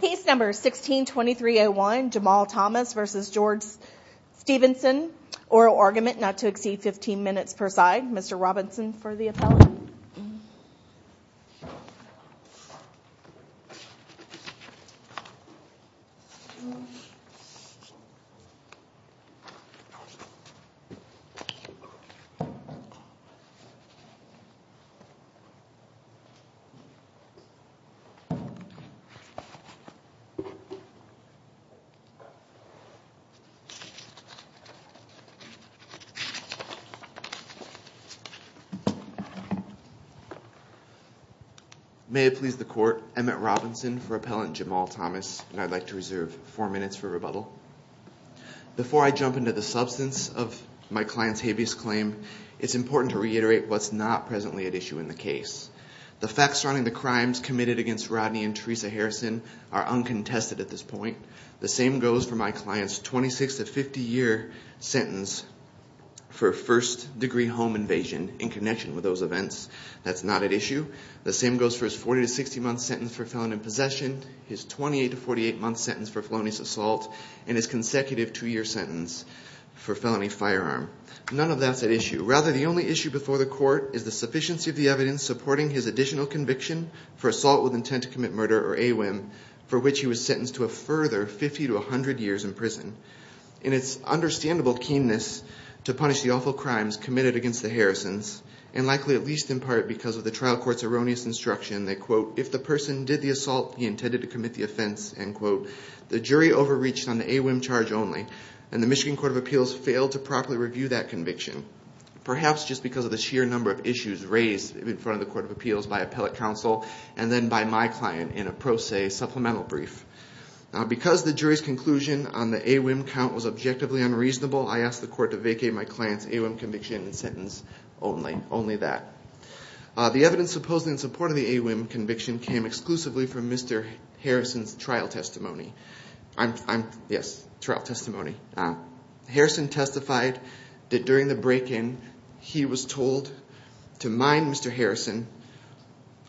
Case No. 16-2301, Jamal Thomas v. George Stephenson Oral argument not to exceed 15 minutes per side Mr. Robinson for the appellate May it please the court, Emmett Robinson for appellant Jamal Thomas and I'd like to reserve four minutes for rebuttal Before I jump into the substance of my client's habeas claim it's important to reiterate what's not presently at issue in the case The facts surrounding the crimes committed against Rodney and Teresa Harrison are uncontested at this point The same goes for my client's 26-50 year sentence for first degree home invasion in connection with those events That's not at issue The same goes for his 40-60 month sentence for felon in possession his 28-48 month sentence for felonious assault None of that's at issue Rather, the only issue before the court is the sufficiency of the evidence supporting his additional conviction for assault with intent to commit murder or AWIM for which he was sentenced to a further 50-100 years in prison In its understandable keenness to punish the awful crimes committed against the Harrisons and likely at least in part because of the trial court's erroneous instruction that, quote, if the person did the assault, he intended to commit the offense, end quote the jury overreached on the AWIM charge only and the Michigan Court of Appeals failed to properly review that conviction perhaps just because of the sheer number of issues raised in front of the Court of Appeals by appellate counsel and then by my client in a pro se supplemental brief Because the jury's conclusion on the AWIM count was objectively unreasonable I asked the court to vacate my client's AWIM conviction and sentence only that The evidence supposedly in support of the AWIM conviction came exclusively from Mr. Harrison's trial testimony Yes, trial testimony Harrison testified that during the break-in he was told to mind Mr. Harrison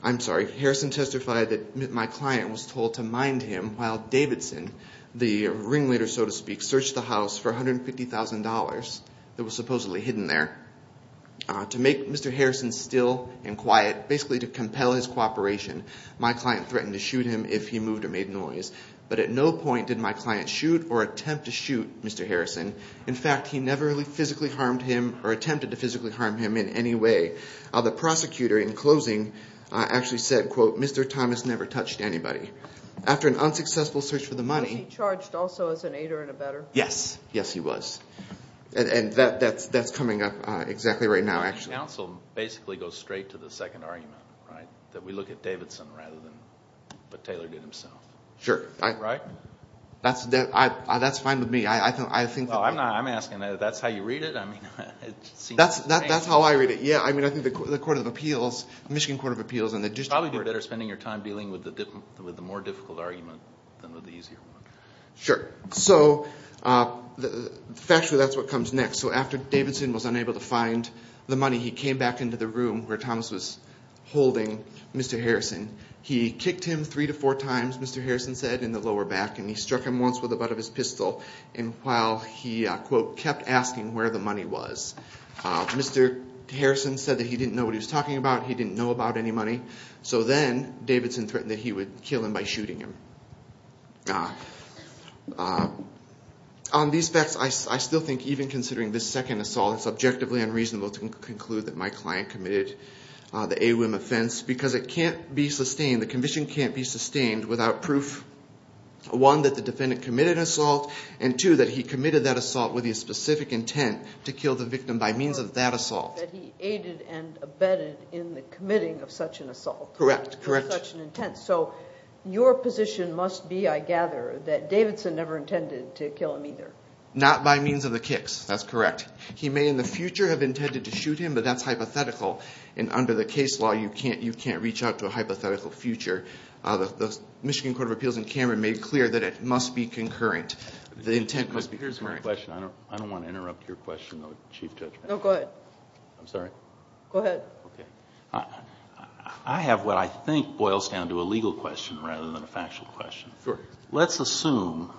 I'm sorry, Harrison testified that my client was told to mind him while Davidson, the ringleader so to speak, searched the house for $150,000 that was supposedly hidden there To make Mr. Harrison still and quiet, basically to compel his cooperation my client threatened to shoot him if he moved or made noise But at no point did my client shoot or attempt to shoot Mr. Harrison In fact, he never physically harmed him or attempted to physically harm him in any way The prosecutor in closing actually said, quote, Mr. Thomas never touched anybody After an unsuccessful search for the money Was he charged also as an aider and abetter? Yes, yes he was And that's coming up exactly right now actually The counsel basically goes straight to the second argument, right? That we look at Davidson rather than what Taylor did himself Sure Right? That's fine with me Well, I'm asking, that's how you read it? That's how I read it, yeah I mean, I think the Michigan Court of Appeals It would probably be better spending your time dealing with the more difficult argument than with the easier one Sure So, factually that's what comes next So after Davidson was unable to find the money he came back into the room where Thomas was holding Mr. Harrison He kicked him three to four times, Mr. Harrison said, in the lower back And he struck him once with the butt of his pistol And while he, quote, kept asking where the money was Mr. Harrison said that he didn't know what he was talking about He didn't know about any money So then Davidson threatened that he would kill him by shooting him On these facts, I still think even considering this second assault It's objectively unreasonable to conclude that my client committed the AWIM offense because it can't be sustained, the conviction can't be sustained without proof, one, that the defendant committed an assault and two, that he committed that assault with his specific intent to kill the victim by means of that assault That he aided and abetted in the committing of such an assault Correct, correct With such an intent So, your position must be, I gather, that Davidson never intended to kill him either Not by means of the kicks, that's correct He may in the future have intended to shoot him, but that's hypothetical And under the case law, you can't reach out to a hypothetical future The Michigan Court of Appeals in Canberra made clear that it must be concurrent The intent must be concurrent Here's my question, I don't want to interrupt your question though, Chief Judge No, go ahead I'm sorry? Go ahead I have what I think boils down to a legal question rather than a factual question Sure Let's assume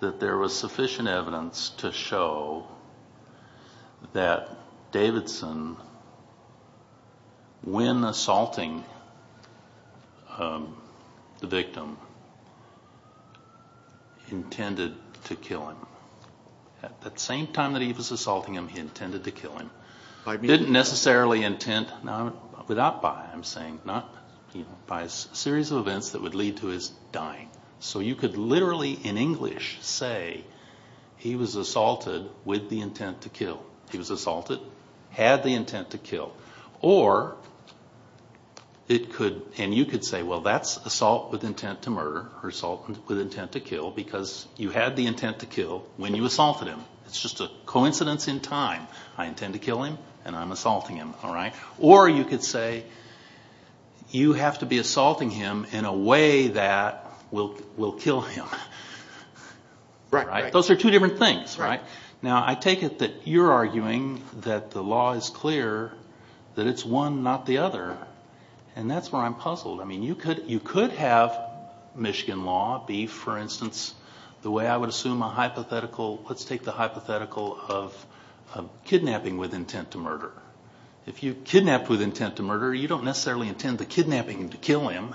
that there was sufficient evidence to show that Davidson, when assaulting the victim, intended to kill him At the same time that he was assaulting him, he intended to kill him By means of He didn't necessarily intend, without by, I'm saying By a series of events that would lead to his dying So you could literally, in English, say he was assaulted with the intent to kill He was assaulted, had the intent to kill Or, and you could say, well that's assault with intent to murder Or assault with intent to kill Because you had the intent to kill when you assaulted him It's just a coincidence in time I intend to kill him, and I'm assaulting him Or you could say, you have to be assaulting him in a way that will kill him Those are two different things Now I take it that you're arguing that the law is clear That it's one, not the other And that's where I'm puzzled You could have Michigan law be, for instance, the way I would assume a hypothetical Let's take the hypothetical of kidnapping with intent to murder If you kidnap with intent to murder, you don't necessarily intend the kidnapping to kill him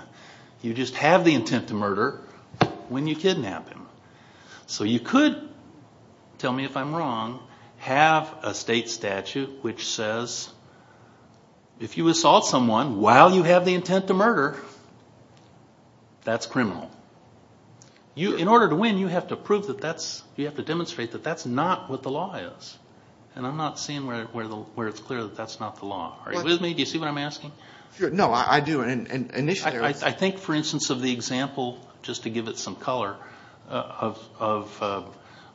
You just have the intent to murder when you kidnap him So you could, tell me if I'm wrong, have a state statute which says If you assault someone while you have the intent to murder, that's criminal In order to win, you have to prove that that's, you have to demonstrate that that's not what the law is And I'm not seeing where it's clear that's not the law Are you with me? Do you see what I'm asking? No, I do I think, for instance, of the example, just to give it some color Of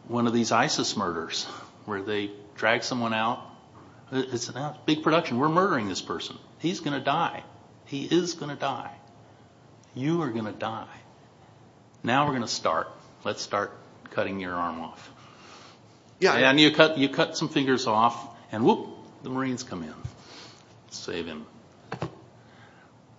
one of these ISIS murders Where they drag someone out It's a big production, we're murdering this person He's going to die He is going to die You are going to die Now we're going to start Let's start cutting your arm off And you cut some fingers off And whoop, the Marines come in Save him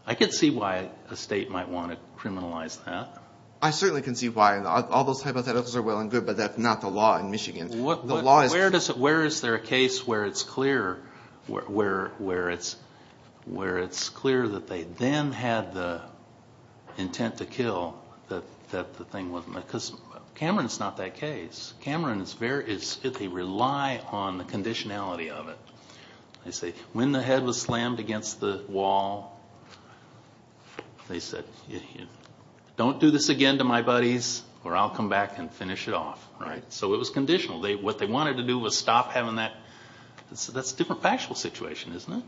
I can see why a state might want to criminalize that I certainly can see why All those hypotheticals are well and good, but that's not the law in Michigan Where is there a case where it's clear Where it's clear that they then had the intent to kill Cameron is not that case They rely on the conditionality of it They say, when the head was slammed against the wall They said, don't do this again to my buddies Or I'll come back and finish it off So it was conditional What they wanted to do was stop having that That's a different factual situation, isn't it?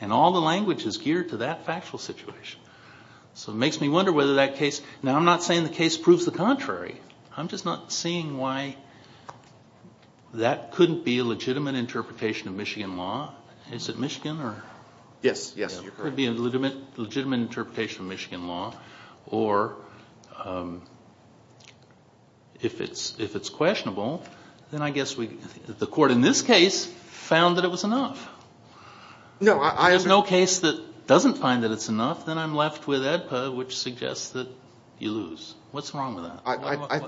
And all the language is geared to that factual situation So it makes me wonder whether that case Now I'm not saying the case proves the contrary I'm just not seeing why That couldn't be a legitimate interpretation of Michigan law Is it Michigan? Yes, you're correct It could be a legitimate interpretation of Michigan law Or If it's questionable Then I guess the court in this case Found that it was enough If there's no case that doesn't find that it's enough Then I'm left with AEDPA, which suggests that you lose What's wrong with that?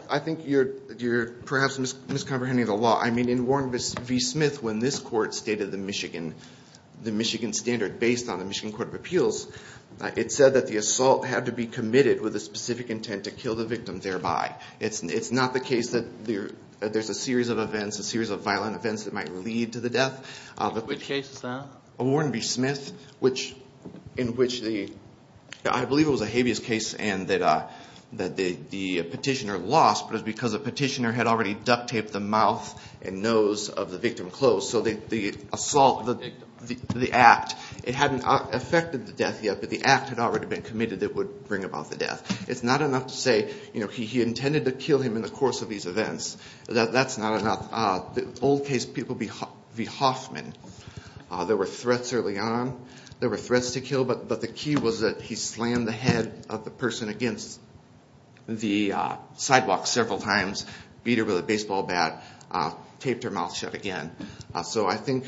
I think you're perhaps miscomprehending the law I mean, in Warren v. Smith When this court stated the Michigan standard Based on the Michigan Court of Appeals It said that the assault had to be committed With a specific intent to kill the victim thereby It's not the case that there's a series of events A series of violent events that might lead to the death Which case is that? Warren v. Smith In which the I believe it was a habeas case And that the petitioner lost But it was because the petitioner had already duct taped the mouth And nose of the victim closed So the assault, the act It hadn't affected the death yet But the act had already been committed that would bring about the death It's not enough to say He intended to kill him in the course of these events That's not enough The old case people v. Hoffman There were threats early on There were threats to kill But the key was that he slammed the head of the person against The sidewalk several times Beat her with a baseball bat Taped her mouth shut again So I think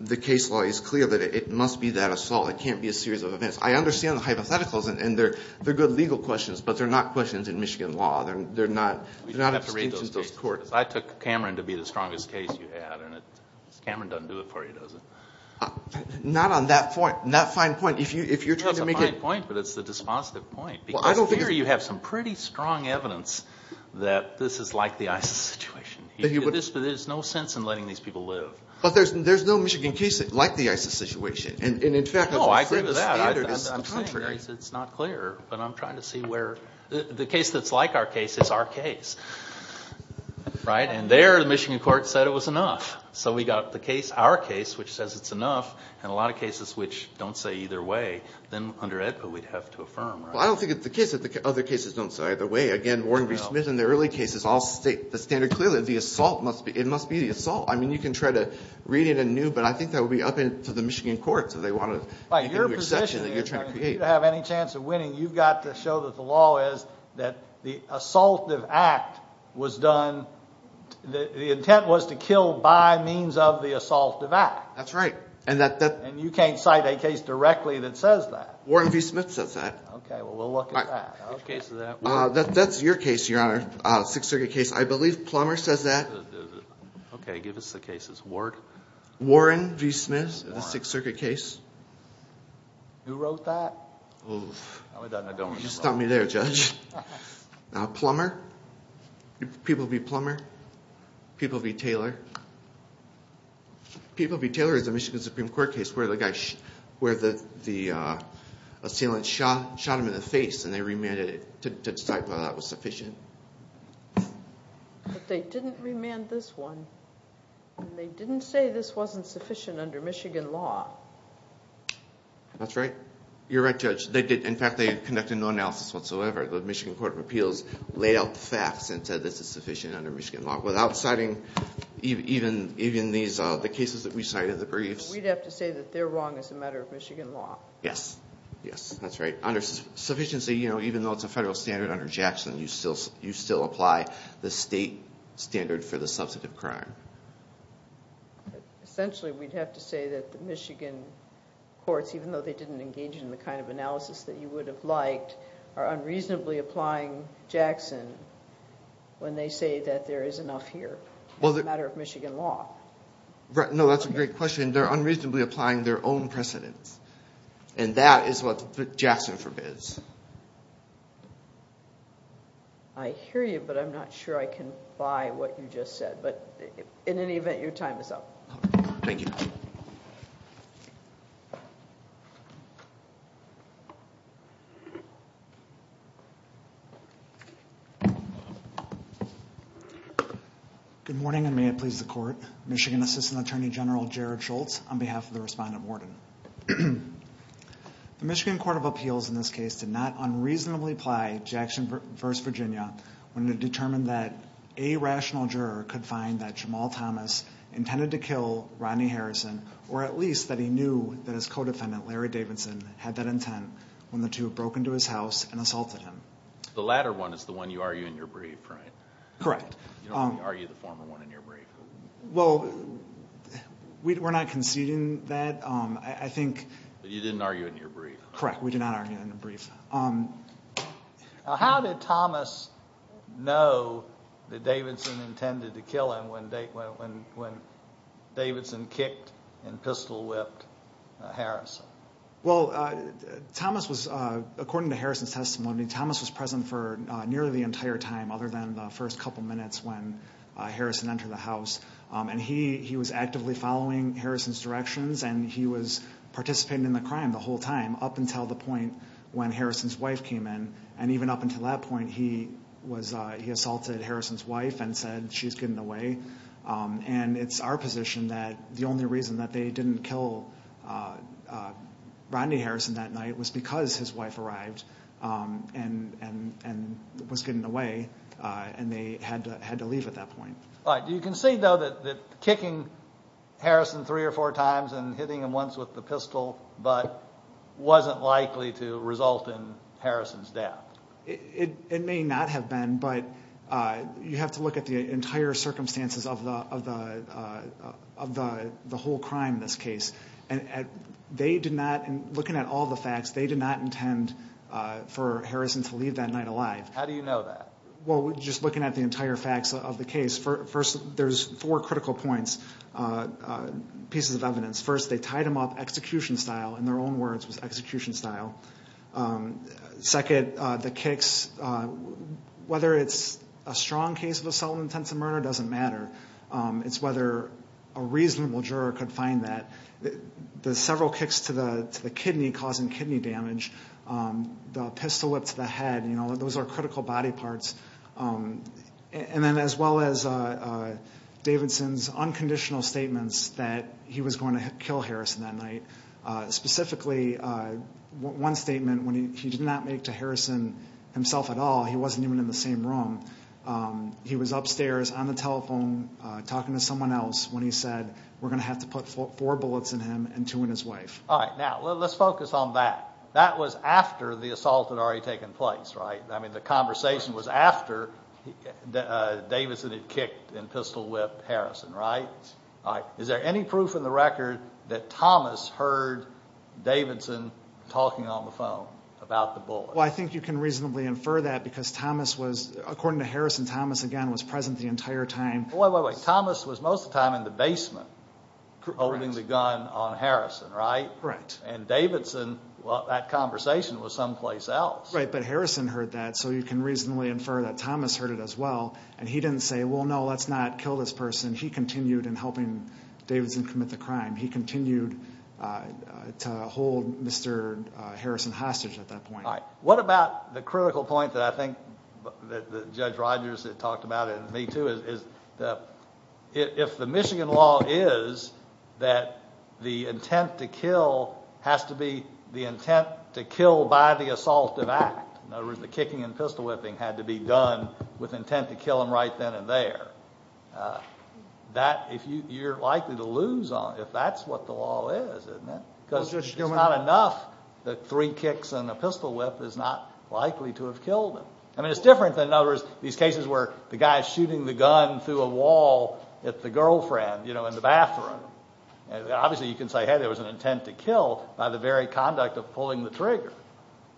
the case law is clear That it must be that assault It can't be a series of events I understand the hypotheticals And they're good legal questions But they're not questions in Michigan law They're not extensions of those courts I took Cameron to be the strongest case you had And Cameron doesn't do it for you, does he? Not on that fine point It's a fine point, but it's the dispositive point Because here you have some pretty strong evidence That this is like the ISIS situation There's no sense in letting these people live But there's no Michigan case like the ISIS situation No, I agree with that I'm saying it's not clear But I'm trying to see where The case that's like our case is our case And there the Michigan court said it was enough So we got our case, which says it's enough And a lot of cases which don't say either way Then under AEDPA we'd have to affirm I don't think it's the case that other cases don't say either way Again, Warren B. Smith in the early cases All state the standard clearly The assault must be It must be the assault I mean, you can try to read it anew But I think that would be up to the Michigan courts If they want to make a new exception If you have any chance of winning You've got to show that the law is That the assaultive act was done The intent was to kill by means of the assaultive act That's right And you can't cite a case directly that says that Warren B. Smith says that Okay, well we'll look at that Which case is that? That's your case, Your Honor Sixth Circuit case I believe Plummer says that Okay, give us the cases Warren B. Smith The Sixth Circuit case Who wrote that? You stopped me there, Judge Plummer P. B. Plummer P. B. Taylor P. B. Taylor is a Michigan Supreme Court case Where the guy Where the Assailant shot him in the face And they remanded it To decide whether that was sufficient But they didn't remand this one And they didn't say this wasn't sufficient Under Michigan law That's right You're right, Judge In fact, they conducted no analysis whatsoever The Michigan Court of Appeals Laid out the facts and said this is sufficient Under Michigan law Without citing even these The cases that we cited, the briefs We'd have to say that they're wrong As a matter of Michigan law Yes Yes, that's right Under sufficiency, you know Even though it's a federal standard Under Jackson You still apply the state standard For the substantive crime Essentially, we'd have to say that The Michigan courts Even though they didn't engage In the kind of analysis That you would have liked Are unreasonably applying Jackson When they say that there is enough here As a matter of Michigan law No, that's a great question They're unreasonably applying Their own precedence And that is what Jackson forbids I hear you But I'm not sure I can buy What you just said But in any event, your time is up Thank you Thank you Good morning And may it please the court Michigan Assistant Attorney General Jared Schultz On behalf of the respondent warden The Michigan Court of Appeals In this case did not unreasonably apply Jackson v. Virginia When it determined that A rational juror could find that Jamal Thomas intended to kill Rodney Harrison Or at least that he knew That his co-defendant Larry Davidson Had that intent When the two broke into his house And assaulted him The latter one is the one You argue in your brief, right? Correct You don't argue the former one In your brief Well, we're not conceding that I think But you didn't argue it in your brief Correct, we did not argue it in the brief How did Thomas know That Davidson intended to kill him When Davidson kicked And pistol whipped Harrison? Well, Thomas was According to Harrison's testimony Thomas was present for Nearly the entire time Other than the first couple minutes When Harrison entered the house And he was actively following Harrison's directions And he was participating in the crime The whole time Up until the point When Harrison's wife came in And even up until that point He assaulted Harrison's wife And said she's getting away And it's our position that The only reason that They didn't kill Rodney Harrison that night Was because his wife arrived And was getting away And they had to leave at that point Right, do you concede though That kicking Harrison three or four times And hitting him once with the pistol But wasn't likely to result in Harrison's death? It may not have been But you have to look at The entire circumstances Of the whole crime in this case And they did not Looking at all the facts They did not intend For Harrison to leave that night alive How do you know that? Well, just looking at the entire facts of the case First, there's four critical points Pieces of evidence First, they tied him up execution style In their own words, it was execution style Second, the kicks Whether it's a strong case Of assault and intensive murder Doesn't matter It's whether a reasonable juror Could find that The several kicks to the kidney Causing kidney damage The pistol whip to the head Those are critical body parts And then as well as Davidson's unconditional statements That he was going to kill Harrison that night Specifically, one statement When he did not make to Harrison Himself at all He wasn't even in the same room He was upstairs on the telephone Talking to someone else When he said We're going to have to put four bullets in him And two in his wife All right, now Let's focus on that That was after the assault Had already taken place, right? I mean, the conversation was after Davidson had kicked and pistol whipped Harrison, right? Is there any proof in the record That Thomas heard Davidson Talking on the phone about the bullets? Well, I think you can reasonably infer that Because Thomas was According to Harrison Thomas, again, was present the entire time Wait, wait, wait Thomas was most of the time in the basement Holding the gun on Harrison, right? Right And Davidson Well, that conversation was someplace else Right, but Harrison heard that So you can reasonably infer That Thomas heard it as well And he didn't say Well, no, let's not kill this person He continued in helping Davidson commit the crime He continued to hold Mr. Harrison hostage at that point All right, what about the critical point That I think that Judge Rogers had talked about And me too Is that if the Michigan law is That the intent to kill Has to be the intent to kill by the assaultive act In other words, the kicking and pistol whipping Had to be done with intent to kill him right then and there That, you're likely to lose on If that's what the law is, isn't it? Because it's not enough That three kicks and a pistol whip Is not likely to have killed him I mean, it's different than In other words, these cases where The guy's shooting the gun through a wall At the girlfriend, you know, in the bathroom Obviously you can say Hey, there was an intent to kill By the very conduct of pulling the trigger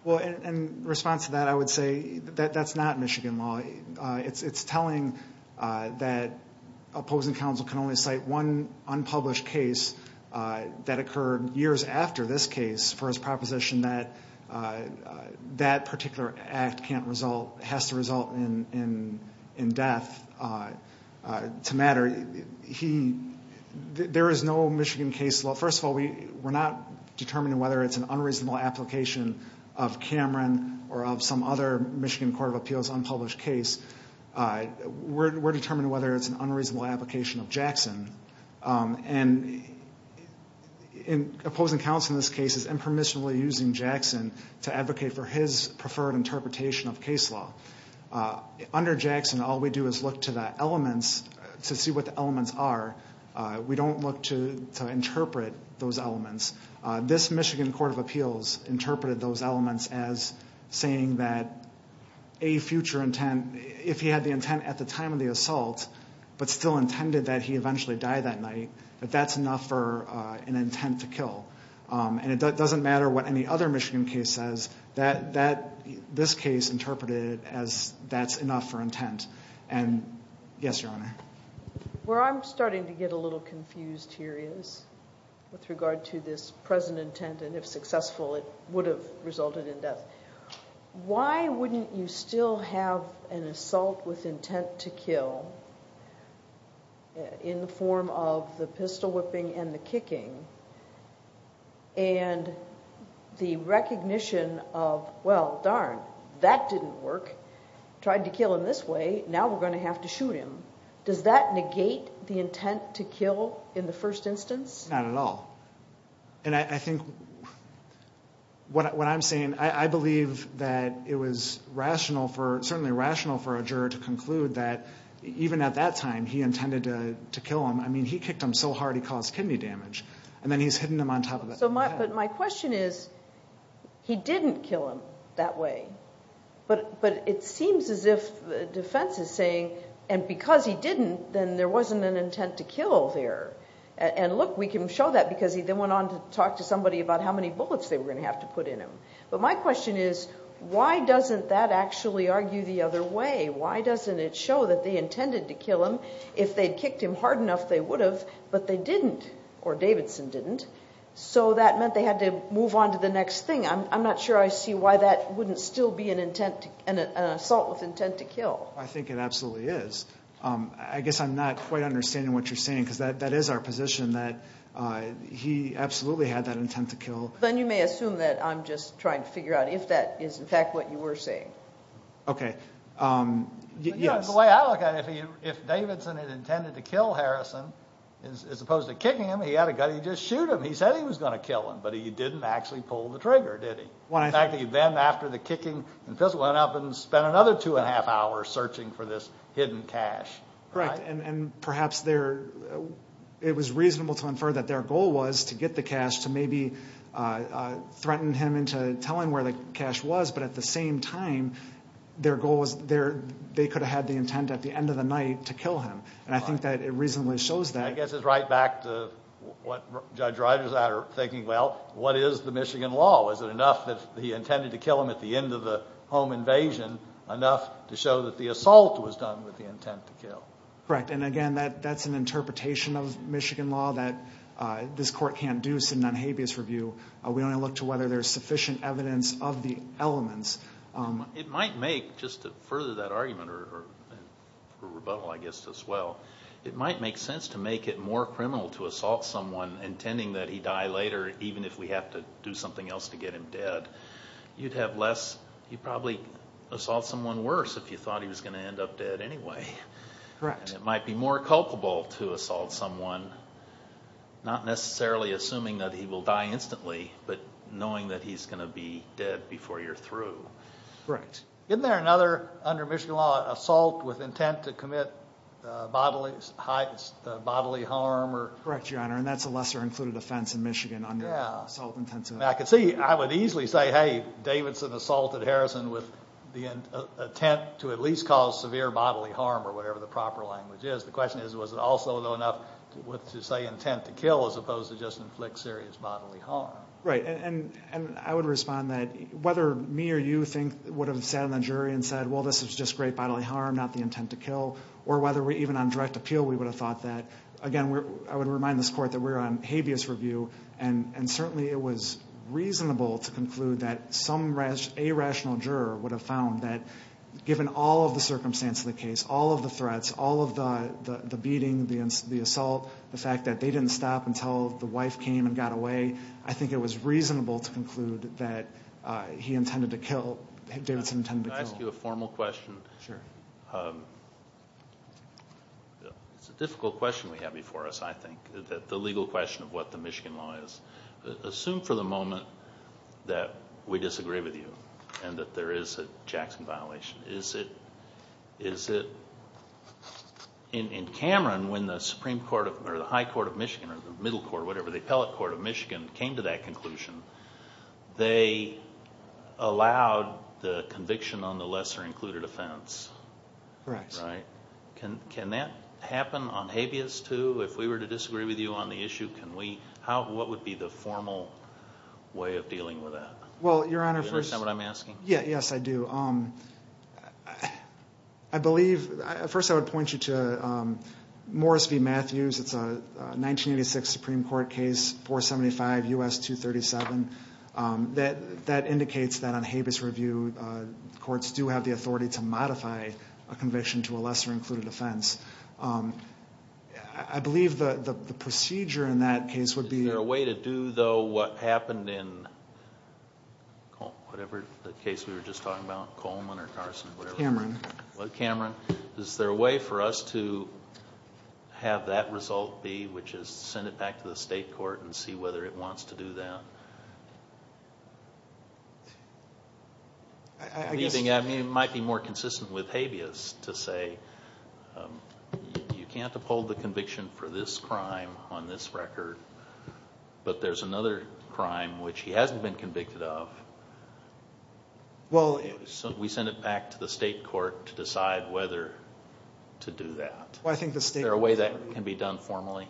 Well, in response to that I would say that that's not Michigan law It's telling that Opposing counsel can only cite One unpublished case That occurred years after this case For his proposition that That particular act can't result Has to result in death To matter There is no Michigan case law First of all, we're not determining Whether it's an unreasonable application Of Cameron or of some other Michigan Court of Appeals unpublished case We're determining whether It's an unreasonable application of Jackson And opposing counsel in this case Is impermissibly using Jackson To advocate for his preferred Interpretation of case law Under Jackson, all we do is look to the elements To see what the elements are We don't look to interpret those elements This Michigan Court of Appeals Interpreted those elements as Saying that a future intent If he had the intent at the time of the assault But still intended that he eventually died that night That that's enough for an intent to kill And it doesn't matter what any other Michigan case says This case interpreted it as That's enough for intent And yes, Your Honor Where I'm starting to get a little confused here is With regard to this present intent And if successful it would have resulted in death Why wouldn't you still have An assault with intent to kill In the form of the pistol whipping And the kicking And the recognition of Well, darn, that didn't work Tried to kill him this way Now we're going to have to shoot him Does that negate the intent to kill In the first instance? Not at all And I think What I'm saying I believe that it was rational Certainly rational for a juror to conclude that Even at that time he intended to kill him I mean, he kicked him so hard he caused kidney damage And then he's hitting him on top of the head But my question is He didn't kill him that way But it seems as if the defense is saying And because he didn't Then there wasn't an intent to kill there And look, we can show that Because he then went on to talk to somebody About how many bullets they were going to have to put in him But my question is Why doesn't that actually argue the other way? Why doesn't it show that they intended to kill him? If they'd kicked him hard enough they would have But they didn't Or Davidson didn't So that meant they had to move on to the next thing I'm not sure I see why that wouldn't still be an intent An assault with intent to kill I think it absolutely is I guess I'm not quite understanding what you're saying Because that is our position That he absolutely had that intent to kill Then you may assume that I'm just trying to figure out If that is in fact what you were saying Okay Yes The way I look at it If Davidson had intended to kill Harrison As opposed to kicking him He had a gun, he'd just shoot him He said he was going to kill him But he didn't actually pull the trigger, did he? In fact, he then after the kicking Went up and spent another two and a half hours Searching for this hidden cache Correct And perhaps it was reasonable to infer That their goal was to get the cache To maybe threaten him To try to get him to tell him where the cache was But at the same time Their goal was They could have had the intent at the end of the night To kill him And I think that it reasonably shows that I guess it's right back to What Judge Ryders and I are thinking Well, what is the Michigan law? Was it enough that he intended to kill him At the end of the home invasion Enough to show that the assault was done With the intent to kill? Correct, and again That's an interpretation of Michigan law That this court can't do sitting on habeas review We only look to whether there's sufficient evidence Of the elements It might make, just to further that argument Or rebuttal I guess as well It might make sense to make it more criminal To assault someone intending that he die later Even if we have to do something else to get him dead You'd have less You'd probably assault someone worse If you thought he was going to end up dead anyway Correct And it might be more culpable to assault someone Not necessarily assuming that he will die instantly But knowing that he's going to be dead before you're through Correct Isn't there another under Michigan law Assault with intent to commit bodily harm? Correct, Your Honor And that's a lesser included offense in Michigan Yeah I could see I would easily say Hey, Davidson assaulted Harrison With the intent to at least cause severe bodily harm Or whatever the proper language is The question is Was it also though enough To say intent to kill As opposed to just inflict serious bodily harm? Right And I would respond that Whether me or you think Would have sat on the jury and said Well, this is just great bodily harm Not the intent to kill Or whether even on direct appeal We would have thought that Again, I would remind this court That we're on habeas review And certainly it was reasonable to conclude That some irrational juror would have found That given all of the circumstance of the case All of the threats All of the beating The assault The fact that they didn't stop Until the wife came and got away I think it was reasonable to conclude That he intended to kill Davidson intended to kill Can I ask you a formal question? Sure It's a difficult question we have before us, I think The legal question of what the Michigan law is Assume for the moment That we disagree with you And that there is a Jackson violation Is it In Cameron When the Supreme Court Or the High Court of Michigan Or the Middle Court Whatever, the Appellate Court of Michigan Came to that conclusion They allowed the conviction On the lesser included offense Correct Can that happen on habeas too? If we were to disagree with you on the issue What would be the formal way of dealing with that? Well, Your Honor Do you understand what I'm asking? Yes, I do I believe First I would point you to Morris v. Matthews It's a 1986 Supreme Court case 475 U.S. 237 That indicates that on habeas review Courts do have the authority to modify A conviction to a lesser included offense I believe the procedure in that case would be Is there a way to do though What happened in Whatever the case we were just talking about Coleman or Carson Cameron Cameron Is there a way for us to Have that result be Which is send it back to the state court And see whether it wants to do that? I guess It might be more consistent with habeas To say You can't uphold the conviction for this crime On this record But there's another crime Which he hasn't been convicted of So we send it back to the state court To decide whether to do that Is there a way that can be done formally?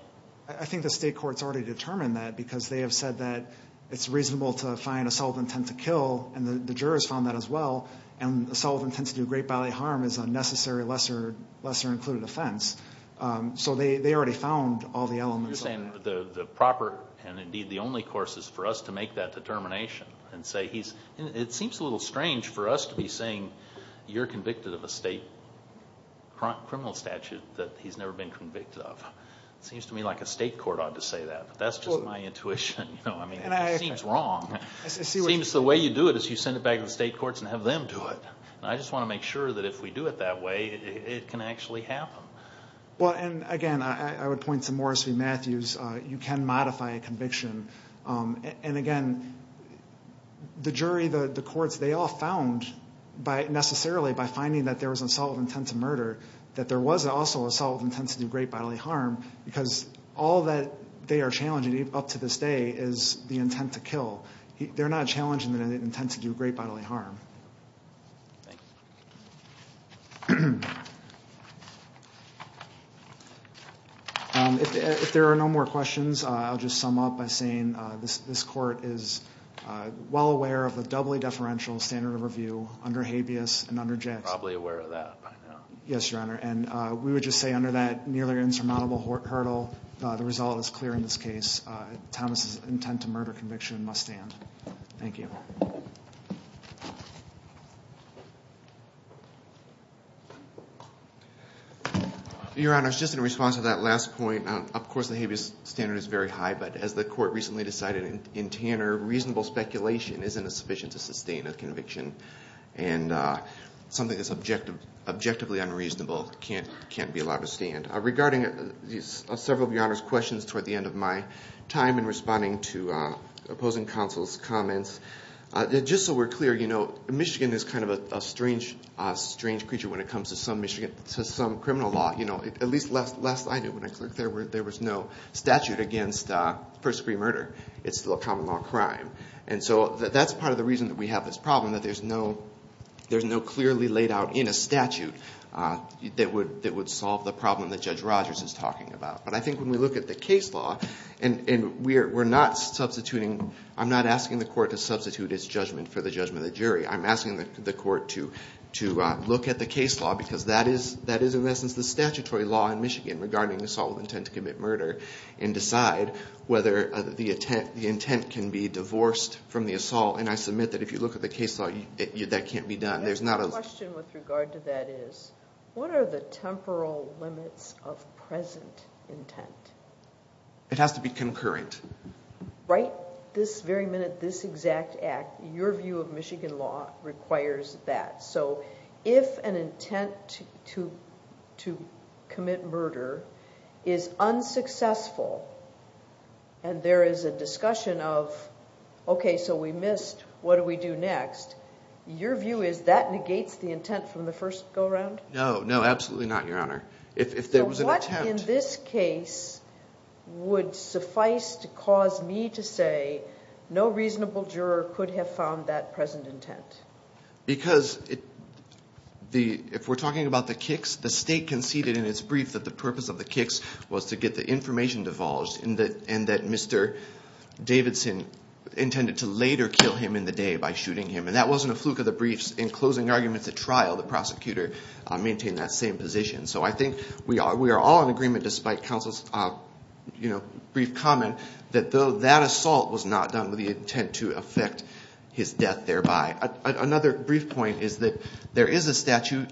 I think the state court's already determined that Because they have said that It's reasonable to find assault with intent to kill And the jurors found that as well And assault with intent to do great bodily harm Is a necessary lesser included offense So they already found all the elements You're saying the proper And indeed the only course is for us to make that determination And say he's It seems a little strange for us to be saying You're convicted of a state criminal statute That he's never been convicted of It seems to me like a state court ought to say that But that's just my intuition It seems wrong It seems the way you do it Is you send it back to the state courts And have them do it I just want to make sure that if we do it that way It can actually happen Well and again I would point to Morris v. Matthews You can modify a conviction And again The jury, the courts They all found Necessarily by finding that there was assault with intent to murder That there was also assault with intent to do great bodily harm Because all that they are challenging up to this day Is the intent to kill They're not challenging the intent to do great bodily harm Thank you If there are no more questions I'll just sum up by saying This court is Well aware of the doubly deferential standard of review Under habeas and under jets Probably aware of that by now Yes your honor And we would just say under that Nearly insurmountable hurdle The result is clear in this case Thomas' intent to murder conviction must stand Thank you Thank you Your honor Just in response to that last point Of course the habeas standard is very high But as the court recently decided in Tanner Reasonable speculation isn't sufficient to sustain a conviction And something that's objectively unreasonable Can't be allowed to stand Regarding several of your honors questions Toward the end of my time In responding to opposing counsel's comments Just so we're clear Michigan is kind of a strange creature When it comes to some criminal law At least last I knew There was no statute against first degree murder It's still a common law crime And so that's part of the reason we have this problem That there's no clearly laid out in a statute That would solve the problem that Judge Rogers is talking about But I think when we look at the case law And we're not substituting I'm not asking the court to substitute its judgment For the judgment of the jury I'm asking the court to look at the case law Because that is in essence the statutory law in Michigan Regarding assault with intent to commit murder And decide whether the intent can be divorced from the assault And I submit that if you look at the case law That can't be done My question with regard to that is What are the temporal limits of present intent? It has to be concurrent Right But this very minute, this exact act Your view of Michigan law requires that So if an intent to commit murder is unsuccessful And there is a discussion of Okay, so we missed What do we do next? Your view is that negates the intent from the first go around? No, no, absolutely not, Your Honor If there was an intent In this case would suffice to cause me to say No reasonable juror could have found that present intent Because if we're talking about the kicks The state conceded in its brief That the purpose of the kicks Was to get the information divulged And that Mr. Davidson intended to later kill him in the day By shooting him And that wasn't a fluke of the briefs In closing arguments at trial The prosecutor maintained that same position So I think we are all in agreement Despite counsel's brief comment That though that assault was not done With the intent to affect his death thereby Another brief point is that There is a statute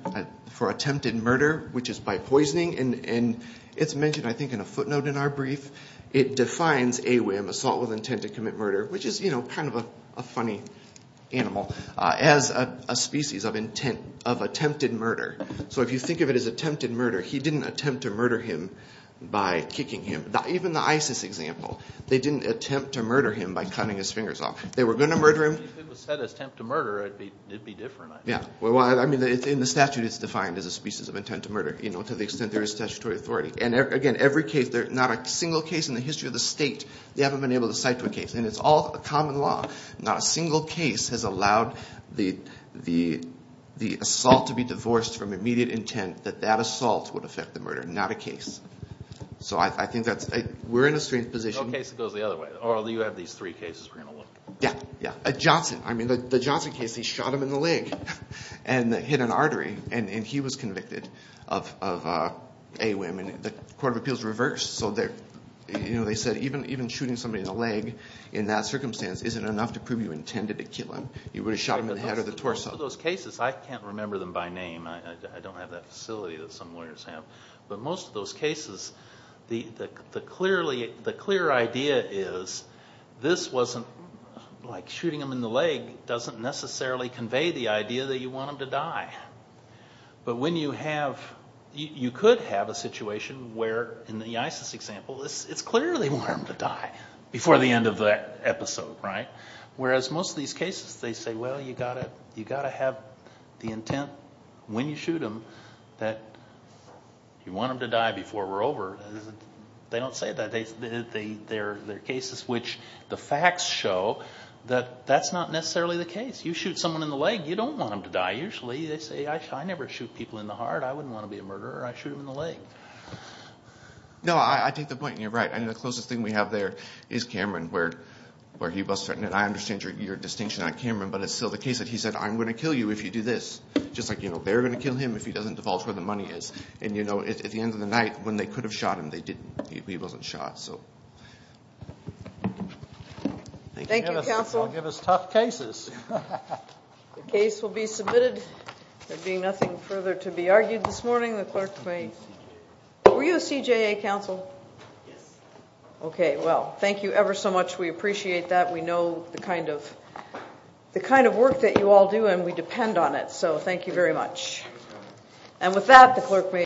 for attempted murder Which is by poisoning And it's mentioned I think in a footnote in our brief It defines AWIM, assault with intent to commit murder Which is kind of a funny animal As a species of attempted murder So if you think of it as attempted murder He didn't attempt to murder him by kicking him Even the ISIS example They didn't attempt to murder him By cutting his fingers off They were going to murder him If it was said attempt to murder It would be different I think In the statute it's defined as a species of intent to murder To the extent there is statutory authority And again every case Not a single case in the history of the state They haven't been able to cite to a case And it's all common law Not a single case has allowed The assault to be divorced from immediate intent That that assault would affect the murder Not a case So I think that's We're in a strange position No case that goes the other way Or you have these three cases we're going to look at Yeah, yeah Johnson I mean the Johnson case He shot him in the leg And hit an artery And he was convicted of AWIM And the court of appeals reversed So they said even shooting somebody in the leg In that circumstance Isn't enough to prove you intended to kill him You would have shot him in the head or the torso Most of those cases I can't remember them by name I don't have that facility that some lawyers have But most of those cases The clear idea is This wasn't Like shooting him in the leg Doesn't necessarily convey the idea That you want him to die But when you have You could have a situation Where in the ISIS example It's clear they want him to die Before the end of the episode, right? Whereas most of these cases They say, well you've got to You've got to have the intent When you shoot him That you want him to die before we're over They don't say that They're cases which The facts show That that's not necessarily the case You shoot someone in the leg You don't want him to die Usually they say I never shoot people in the heart I wouldn't want to be a murderer I shoot him in the leg No, I take the point and you're right I think the closest thing we have there Is Cameron Where he was threatened And I understand your distinction on Cameron But it's still the case that he said I'm going to kill you if you do this Just like, you know, they're going to kill him If he doesn't divulge where the money is And you know, at the end of the night When they could have shot him They didn't He wasn't shot, so Thank you, counsel I'll give us tough cases The case will be submitted There being nothing further to be argued this morning The clerk may Were you a CJA counsel? Yes Okay, well Thank you ever so much We appreciate that We know the kind of The kind of work that you all do And we depend on it So thank you very much And with that, the clerk may